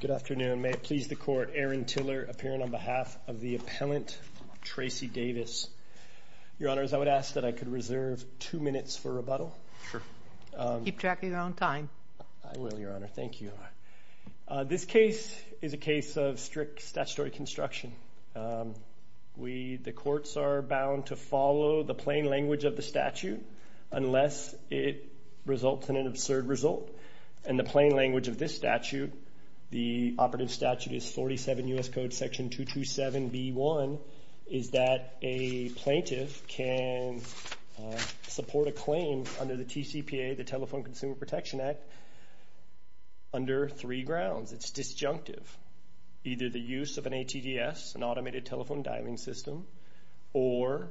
Good afternoon. May it please the Court, Aaron Tiller appearing on behalf of the appellant Tracy Davis. Your Honors, I would ask that I could reserve two minutes for rebuttal. Sure. Keep track of your own time. I will, Your Honor. Thank you. This case is a case of strict statutory construction. We, the courts, are bound to follow the plain language of the statute unless it results in an absurd result. In the plain language of this statute, the operative statute is 47 U.S. Code Section 227B1, is that a plaintiff can support a claim under the TCPA, the Telephone Consumer Protection Act, under three grounds. It's disjunctive. Either the use of an ATDS, an Automated Telephone Dialing System, or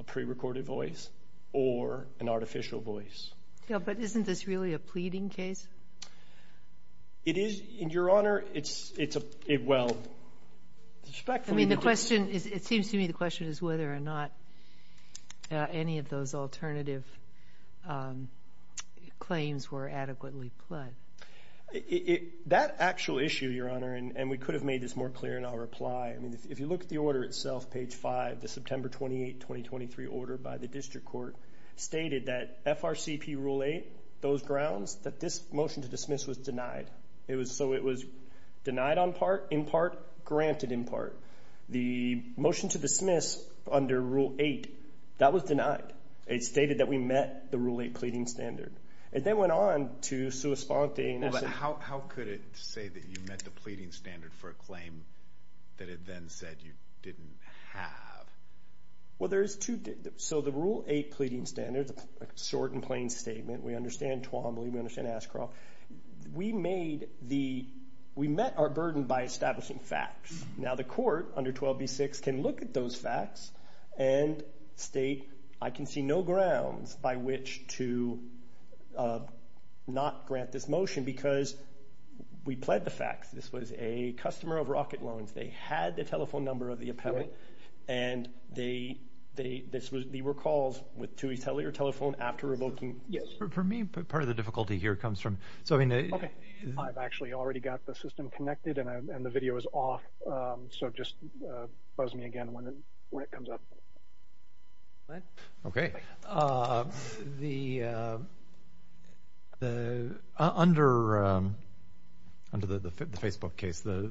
a prerecorded voice, or an artificial voice. Yeah, but isn't this really a pleading case? It is, Your Honor. It's a, well, respectfully... I mean, the question is, it seems to me the question is whether or not any of those alternative claims were adequately pled. That actual issue, Your Honor, and we could have made this more clear in our reply. I mean, if you look at the order itself, page 5, the September 28, 2023 order by the District Court, stated that FRCP Rule 8, those grounds, that this motion to dismiss was denied. It was, so it was denied on part, in part, granted in part. The motion to dismiss under Rule 8, that was denied. It stated that we met the Rule 8 pleading standard. It then went on to sui sponte... How could it say that you met the pleading standard for a claim that it then said you didn't have? Well, there's two, so the Rule 8 pleading standard, short and plain statement, we understand Twombly, we understand Ashcroft. We made the, we met our burden by establishing facts. Now the court, under 12b6, can look at those facts, and state, I can see no grounds by which to not grant this motion, because we pled the facts. This was a customer of Rocket Loans. They had the telephone number of the appellant, and they, this was, they were called with Tuohy's Hellier telephone after revoking, yes. For me, part of the difficulty here comes from, so I mean... Okay, I've actually already got the system connected, and the video is off, so just buzz me again when it comes up. Okay. The, under the Facebook case, the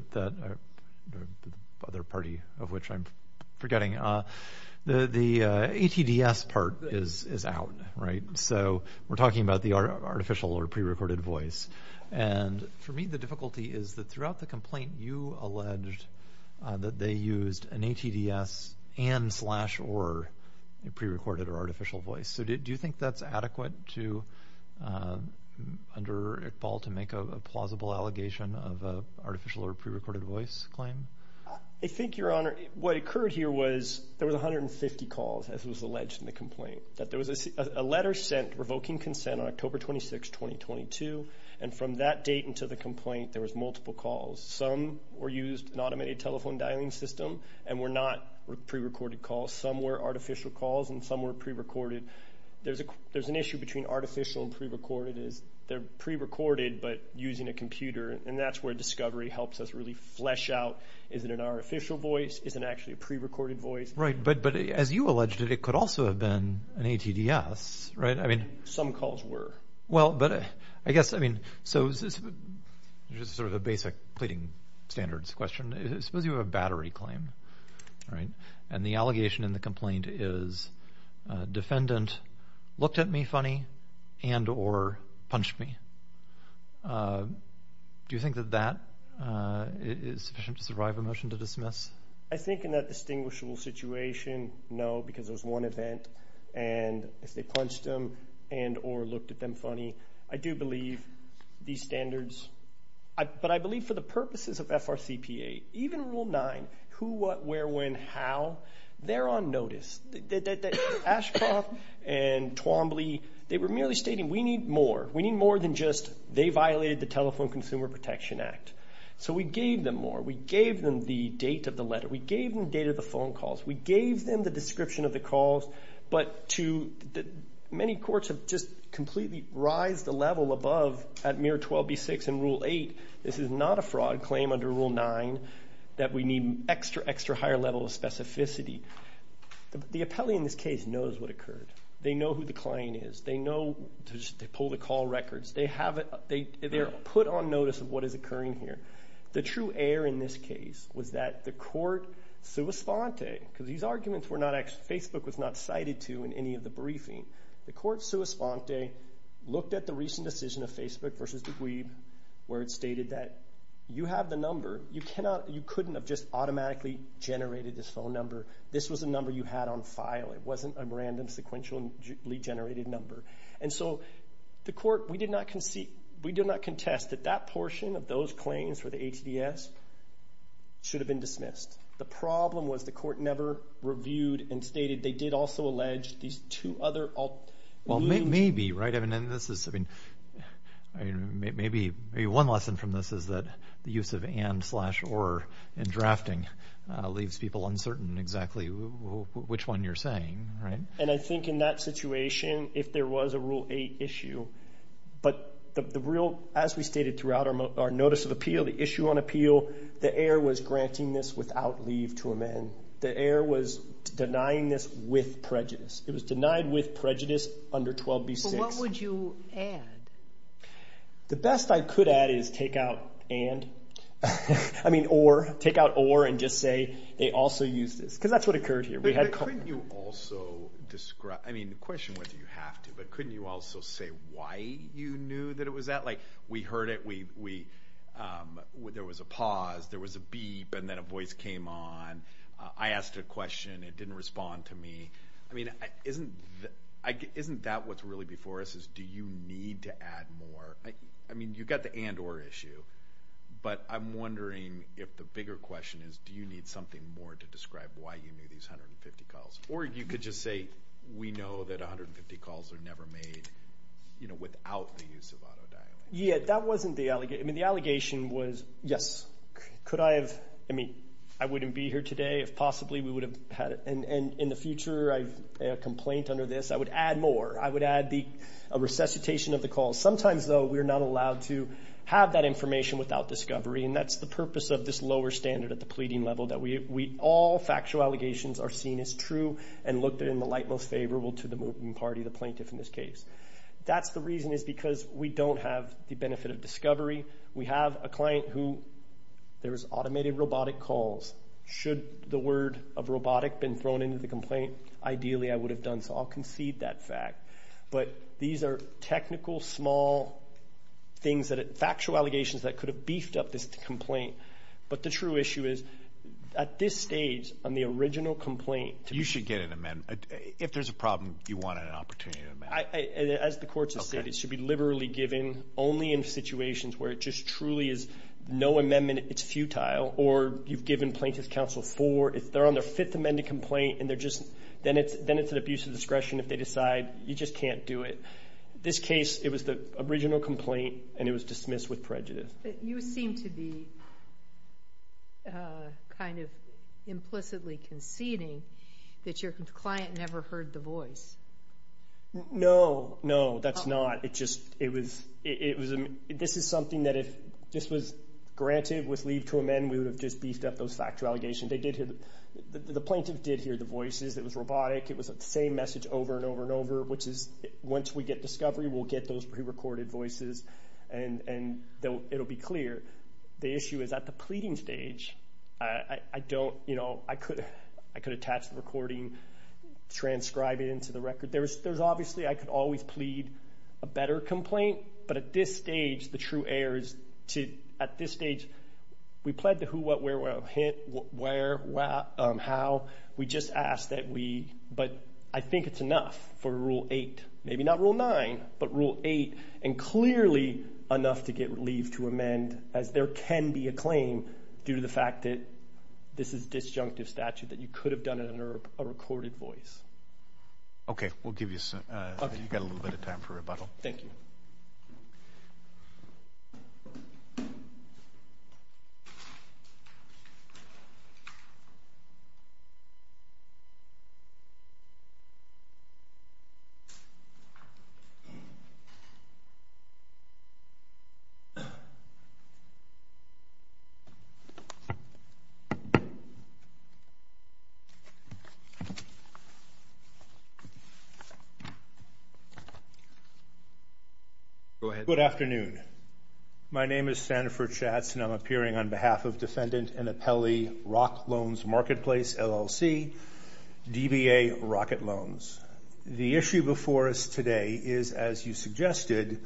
other party of which I'm forgetting, the ATDS part is out, right? So we're talking about the artificial or pre-recorded voice, and for me, the difficulty is that throughout the complaint, you alleged that they used an ATDS and slash or, a pre-recorded or artificial voice. So do you think that's adequate to, under Iqbal, to make a plausible allegation of an artificial or pre-recorded voice claim? I think, Your Honor, what occurred here was, there was 150 calls, as was alleged in the complaint. There was a letter sent revoking consent on October 26, 2022, and from that date until the complaint, there was multiple calls. Some were used in an automated telephone dialing system, and were not pre-recorded calls. Some were artificial calls, and some were pre-recorded. There's a, there's an issue between artificial and pre-recorded, is they're pre-recorded, but using a computer, and that's where discovery helps us really flesh out, is it an artificial voice, is it actually a pre-recorded voice? Right, but as you alleged it, it could also have been an ATDS, right? Some calls were. Well, but I guess, I mean, so this is sort of a basic pleading standards question. Suppose you have a battery claim, right? And the allegation in the complaint is, defendant looked at me funny and or punched me. Do you think that that is sufficient to survive a motion to dismiss? I think in that distinguishable situation, no, because there's one event, and if they punched him and or looked at them funny, I do believe these standards, but I believe for the purposes of FRCPA, even Rule 9, who, what, where, when, how, they're on notice. Ashcroft and Twombly, they were merely stating, we need more, we need more than just, they violated the Telephone Consumer Protection Act. So we gave them more. We gave them the date of the letter. We gave them the date of the phone calls. We gave them the description of the calls, but to, many courts have just completely rised the level above, at mere 12B6 in Rule 8, this is not a fraud claim under Rule 9, that we need extra, extra higher level of specificity. The appellee in this case knows what occurred. They know who the client is. They know, they pull the call records. They have, they're put on notice of what is occurring here. The true error in this case was that the court, sua sponte, because these arguments were not actually, Facebook was not cited to in any of the briefing. The court, sua sponte, looked at the recent decision of Facebook versus Deguib, where it stated that you have the number. You cannot, you couldn't have just automatically generated this phone number. This was a number you had on file. It wasn't a random, sequentially generated number. And so, the court, we did not concede, we do not contest that that portion of those claims for the HDS should have been dismissed. The problem was the court never reviewed and stated they did also allege these two other... Well, maybe, right? I mean, this is, I mean, maybe one lesson from this is that the use of and, slash, or in drafting leaves people uncertain exactly which one you're saying, right? And I think in that situation, if there was a Rule 8 issue, but the real, as we stated throughout our notice of appeal, the issue on appeal, the heir was granting this without leave to amend. The heir was denying this with prejudice. It was denied with prejudice under 12b-6. So what would you add? The best I could add is take out and, I mean, or, take out or and just say they also used this, because that's what occurred here. But couldn't you also describe, I mean, the question whether you have to, but couldn't you also say why you knew that it was that? Like, we heard it, we, there was a pause, there was a beep, and then a voice came on. I asked a question, it didn't respond to me. I mean, isn't that what's really before us is do you need to add more? I mean, you've got the and, or issue, but I'm wondering if the bigger question is do you need something more to describe why you knew these 150 calls? Or you could just say we know that 150 calls are never made, you know, without the use of auto dialing. Yeah, that wasn't the, I mean, the allegation was, yes. Could I have, I mean, I wouldn't be here today if possibly we would have had, and in the future, I have a complaint under this, I would add more. I would add the resuscitation of the calls. Sometimes, though, we're not allowed to have that information without discovery, and that's the purpose of this lower standard at the pleading level, that we, all factual allegations are seen as true and looked at in the light most favorable to the movement party, the plaintiff in this case. That's the reason is because we don't have the benefit of discovery. We have a client who, there was automated robotic calls. Should the word of robotic been thrown into the complaint, ideally I would have done so. I'll concede that fact. But these are technical, small things that, factual allegations that could have beefed up this complaint. But the true issue is, at this stage, on the original complaint. You should get an amendment. If there's a problem, you want an opportunity to amend it. As the courts have said, it should be liberally given only in situations where it just truly is no amendment, it's futile, or you've given plaintiff's counsel four. If they're on their fifth amended complaint and they're just, then it's an abuse of discretion if they decide you just can't do it. This case, it was the original complaint and it was dismissed with prejudice. You seem to be kind of implicitly conceding that your client never heard the voice. No, no, that's not. This is something that if this was granted with leave to amend, we would have just beefed up those factual allegations. The plaintiff did hear the voices. It was robotic. It was the same message over and over and over, which is once we get discovery, we'll get those pre-recorded voices, and it'll be clear. The issue is at the pleading stage, I don't, you know, I could attach the recording, transcribe it into the record. There's obviously I could always plead a better complaint, but at this stage, the true error is to, at this stage, we pled to who, what, where, what, hint, where, how. We just ask that we, but I think it's enough for Rule 8, maybe not Rule 9, but Rule 8, and clearly enough to get leave to amend, as there can be a claim due to the fact that this is disjunctive statute, that you could have done it under a recorded voice. Okay. We'll give you a little bit of time for rebuttal. Thank you. Go ahead. Good afternoon. My name is Sanford Schatz, and I'm appearing on behalf of Defendant and Appellee Rock Loans Marketplace, LLC, DBA Rocket Loans. The issue before us today is, as you suggested,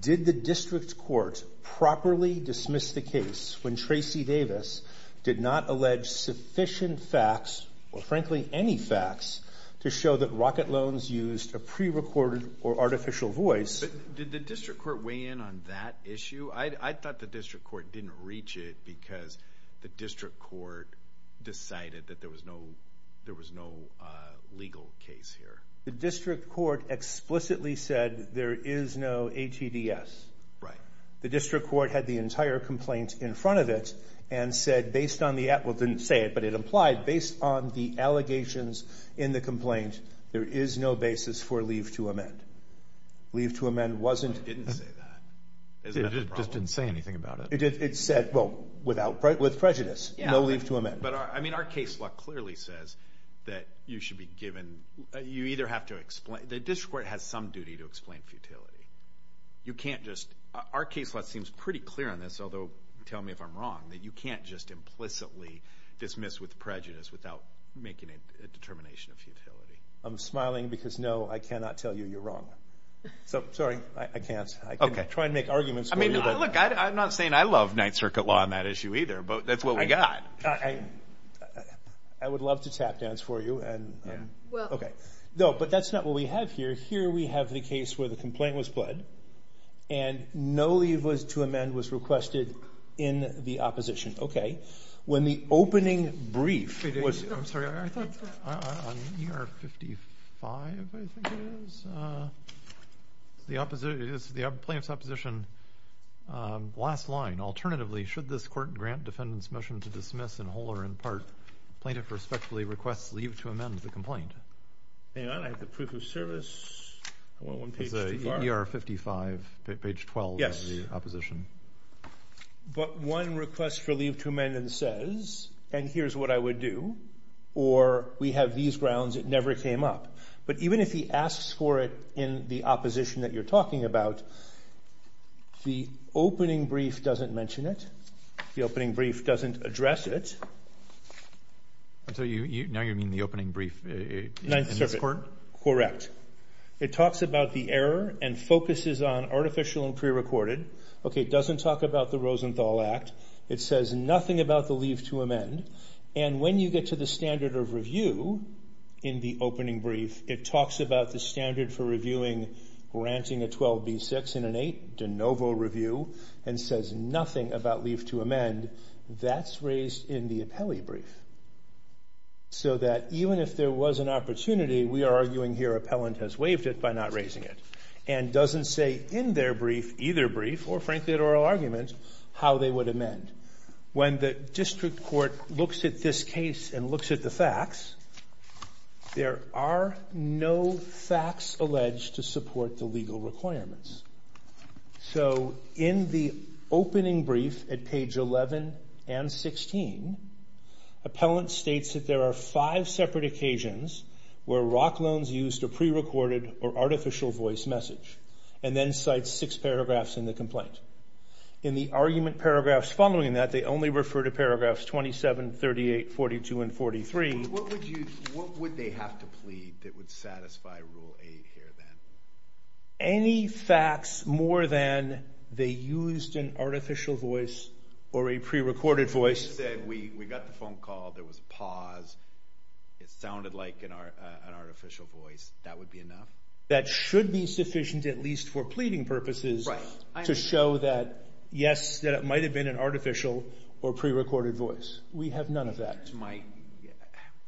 did the district court properly dismiss the case when Tracy Davis did not allege sufficient facts, or frankly any facts, to show that Rocket Loans used a pre-recorded or artificial voice? Did the district court weigh in on that issue? I thought the district court didn't reach it because the district court decided that there was no legal case here. The district court explicitly said there is no ATDS. Right. The district court had the entire complaint in front of it and said, based on the, well, it didn't say it, but it implied, based on the allegations in the complaint, there is no basis for leave to amend. Leave to amend wasn't. The district court didn't say that. It just didn't say anything about it. It said, well, with prejudice, no leave to amend. But, I mean, our case law clearly says that you should be given, you either have to explain, the district court has some duty to explain futility. You can't just, our case law seems pretty clear on this, although tell me if I'm wrong, that you can't just implicitly dismiss with prejudice without making a determination of futility. I'm smiling because, no, I cannot tell you you're wrong. So, sorry, I can't. I can try and make arguments for you. Look, I'm not saying I love Ninth Circuit law on that issue either, but that's what we got. I would love to tap dance for you. Okay. No, but that's not what we have here. Here we have the case where the complaint was pled and no leave to amend was requested in the opposition. When the opening brief was. I'm sorry. I thought on ER 55, I think it is. It's the plaintiff's opposition last line. Alternatively, should this court grant defendant's motion to dismiss in whole or in part, plaintiff respectfully requests leave to amend the complaint. And I have the proof of service. I want one page too far. It's ER 55, page 12 of the opposition. But one request for leave to amend says, and here's what I would do, or we have these grounds, it never came up. But even if he asks for it in the opposition that you're talking about, the opening brief doesn't mention it. The opening brief doesn't address it. Now you mean the opening brief in this court? Correct. It talks about the error and focuses on artificial and prerecorded. Okay, it doesn't talk about the Rosenthal Act. It says nothing about the leave to amend. And when you get to the standard of review in the opening brief, it talks about the standard for reviewing granting a 12B6 and an 8 de novo review and says nothing about leave to amend. That's raised in the appellee brief. So that even if there was an opportunity, we are arguing here appellant has waived it by not raising it. And doesn't say in their brief, either brief or frankly at oral argument, how they would amend. When the district court looks at this case and looks at the facts, there are no facts alleged to support the legal requirements. So in the opening brief at page 11 and 16, appellant states that there are five separate occasions where ROC loans used a prerecorded or artificial voice message, and then cites six paragraphs in the complaint. In the argument paragraphs following that, they only refer to paragraphs 27, 38, 42, and 43. What would they have to plead that would satisfy Rule 8 here then? Any facts more than they used an artificial voice or a prerecorded voice. We got the phone call. There was a pause. It sounded like an artificial voice. That would be enough? That should be sufficient at least for pleading purposes to show that, yes, that it might have been an artificial or prerecorded voice. We have none of that.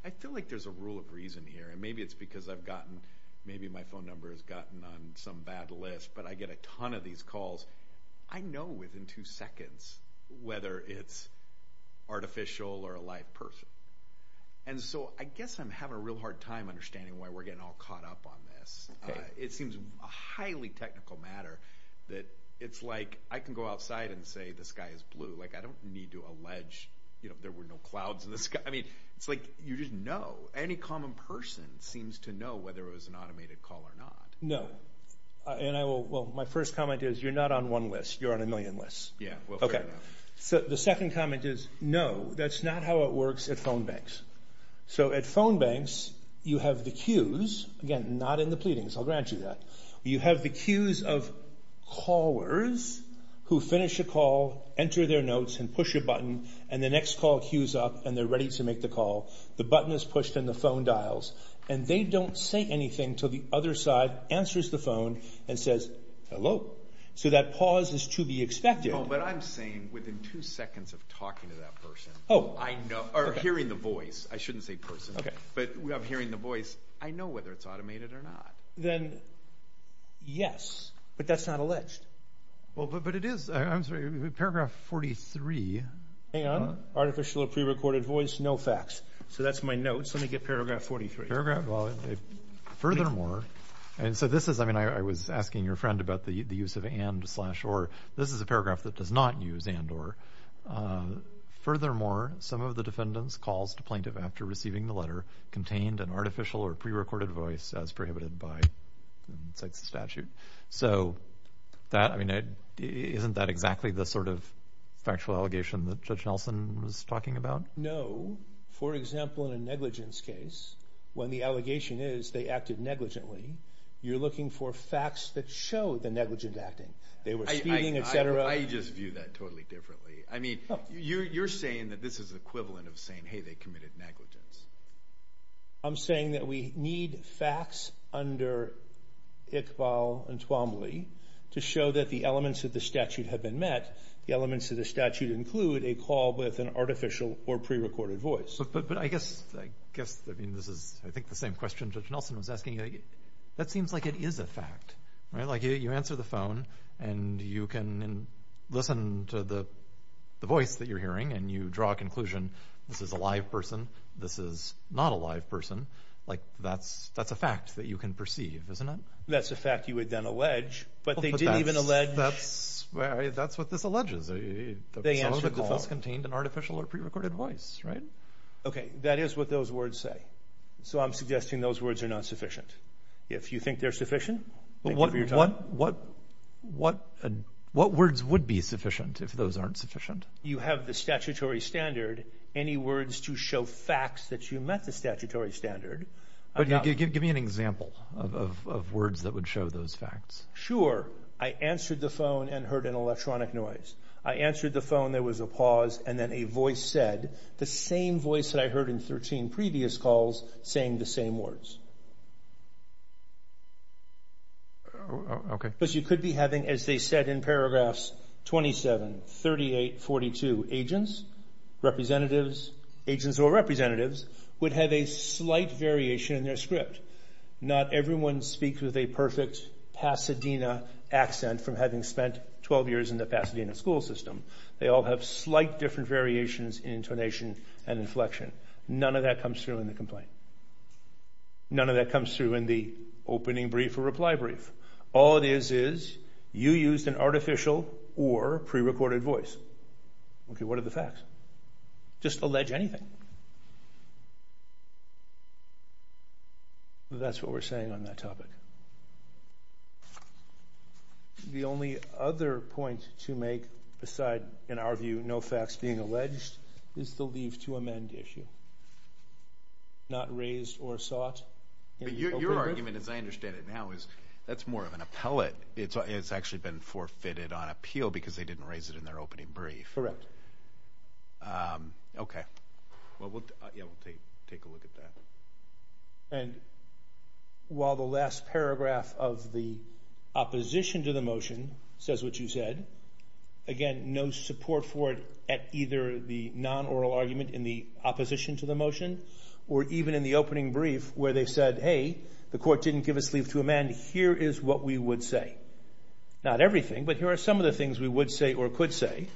I feel like there's a rule of reason here, and maybe it's because I've gotten, maybe my phone number has gotten on some bad list, but I get a ton of these calls. I know within two seconds whether it's artificial or a live person. And so I guess I'm having a real hard time understanding why we're getting all caught up on this. It seems a highly technical matter that it's like I can go outside and say, this guy is blue. Like I don't need to allege there were no clouds in the sky. I mean it's like you just know. Any common person seems to know whether it was an automated call or not. No. Well, my first comment is you're not on one list. You're on a million lists. Yeah. Okay. The second comment is no, that's not how it works at phone banks. So at phone banks you have the queues, again, not in the pleadings. I'll grant you that. You have the queues of callers who finish a call, enter their notes and push a button, and the next call queues up and they're ready to make the call. The button is pushed and the phone dials, and they don't say anything until the other side answers the phone and says, So that pause is to be expected. No, but I'm saying within two seconds of talking to that person. Or hearing the voice. I shouldn't say person. Okay. But I'm hearing the voice. I know whether it's automated or not. Then yes, but that's not alleged. Well, but it is. I'm sorry. Paragraph 43. Hang on. Artificial or prerecorded voice, no facts. So that's my notes. Let me get paragraph 43. Paragraph 43. Furthermore, and so this is, I mean, I was asking your friend about the use of and slash or. This is a paragraph that does not use and or. Furthermore, some of the defendants calls to plaintiff after receiving the letter contained an artificial or prerecorded voice as prohibited by the statute. So that, I mean, isn't that exactly the sort of factual allegation that Judge Nelson was talking about? No. No. For example, in a negligence case, when the allegation is they acted negligently, you're looking for facts that show the negligent acting. They were speeding, et cetera. I just view that totally differently. I mean, you're saying that this is equivalent of saying, hey, they committed negligence. I'm saying that we need facts under Iqbal and Twombly to show that the elements of the statute have been met. The elements of the statute include a call with an artificial or prerecorded voice. But I guess, I mean, this is I think the same question Judge Nelson was asking. That seems like it is a fact, right? Like you answer the phone and you can listen to the voice that you're hearing and you draw a conclusion, this is a live person, this is not a live person. Like that's a fact that you can perceive, isn't it? That's a fact you would then allege, but they didn't even allege. That's what this alleges. Some of the calls contained an artificial or prerecorded voice, right? Okay, that is what those words say. So I'm suggesting those words are not sufficient. If you think they're sufficient, thank you for your time. What words would be sufficient if those aren't sufficient? You have the statutory standard, any words to show facts that you met the statutory standard. Give me an example of words that would show those facts. Sure, I answered the phone and heard an electronic noise. I answered the phone, there was a pause, and then a voice said the same voice that I heard in 13 previous calls saying the same words. Because you could be having, as they said in paragraphs 27, 38, 42, agents, representatives, agents or representatives would have a slight variation in their script. Not everyone speaks with a perfect Pasadena accent from having spent 12 years in the Pasadena school system. They all have slight different variations in intonation and inflection. None of that comes through in the complaint. None of that comes through in the opening brief or reply brief. All it is is you used an artificial or prerecorded voice. Okay, what are the facts? Just allege anything. That's what we're saying on that topic. The only other point to make aside, in our view, no facts being alleged is the leave to amend issue. Not raised or sought in the opening brief. But your argument, as I understand it now, is that's more of an appellate. It's actually been forfeited on appeal because they didn't raise it in their opening brief. Correct. Okay. Well, we'll take a look at that. And while the last paragraph of the opposition to the motion says what you said, again, no support for it at either the non-oral argument in the opposition to the motion or even in the opening brief where they said, hey, the court didn't give us leave to amend. Here is what we would say. Not everything, but here are some of the things we would say or could say.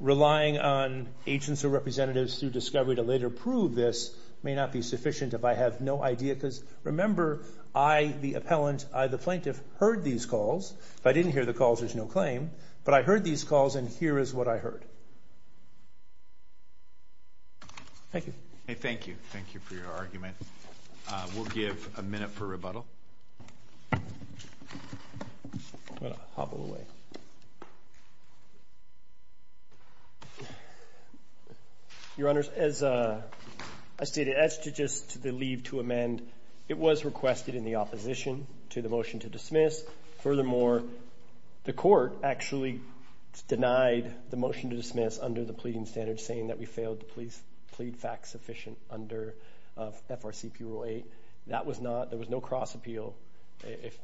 Relying on agents or representatives through discovery to later prove this may not be sufficient if I have no idea. Because remember, I, the appellant, I, the plaintiff, heard these calls. If I didn't hear the calls, there's no claim. But I heard these calls, and here is what I heard. Thank you. Thank you. Thank you for your argument. We'll give a minute for rebuttal. I'm going to hop out of the way. Your Honors, as I stated, as to just the leave to amend, it was requested in the opposition to the motion to dismiss. Furthermore, the court actually denied the motion to dismiss under the pleading standards, saying that we failed to plead facts sufficient under FRCP Rule 8. That was not, there was no cross appeal. If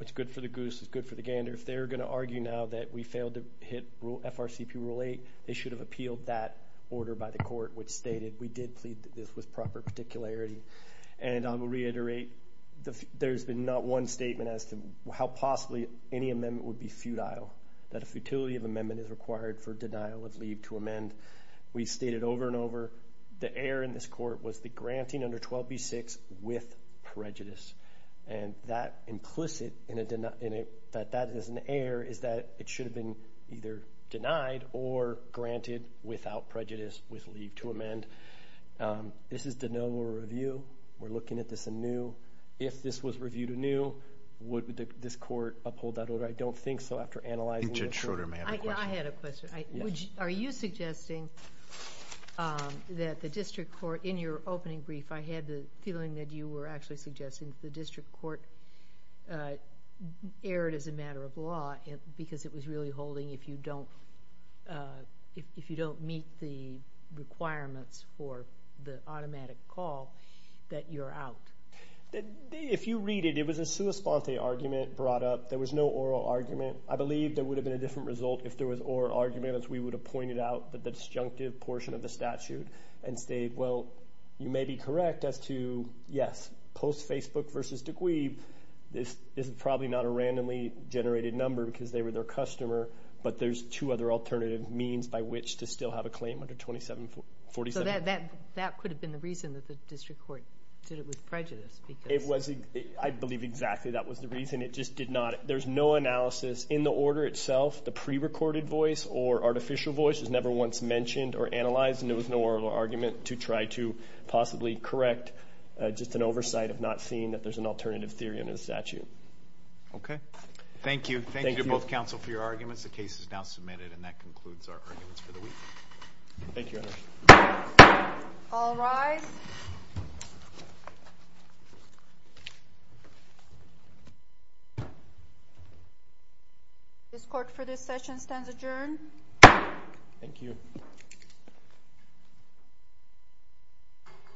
it's good for the goose, it's good for the gander. If they're going to argue now that we failed to hit FRCP Rule 8, they should have appealed that order by the court, which stated we did plead this with proper particularity. And I will reiterate, there's been not one statement as to how possibly any amendment would be futile, that a futility of amendment is required for denial of leave to amend. We've stated over and over, the error in this court was the granting under 12b-6 with prejudice. And that implicit, that that is an error, is that it should have been either denied or granted without prejudice with leave to amend. This is denial of review. We're looking at this anew. If this was reviewed anew, would this court uphold that order? I don't think so, after analyzing it. Judge Schroeder may have a question. I had a question. Are you suggesting that the district court, in your opening brief, I had the feeling that you were actually suggesting the district court erred as a matter of law because it was really holding if you don't meet the requirements for the automatic call, that you're out. If you read it, it was a sua sponte argument brought up. There was no oral argument. I believe there would have been a different result if there was oral argument, as we would have pointed out, but the disjunctive portion of the statute and state, well, you may be correct as to, yes, post-Facebook versus Degweeb, this is probably not a randomly generated number because they were their customer, but there's two other alternative means by which to still have a claim under 2747. That could have been the reason that the district court did it with prejudice. I believe exactly that was the reason. It just did not. There's no analysis in the order itself. The prerecorded voice or artificial voice is never once mentioned or analyzed, and there was no oral argument to try to possibly correct just an oversight of not seeing that there's an alternative theory under the statute. Okay. Thank you. Thank you to both counsel for your arguments. The case is now submitted, and that concludes our arguments for the week. Thank you, Your Honor. All rise. This court for this session stands adjourned. Thank you.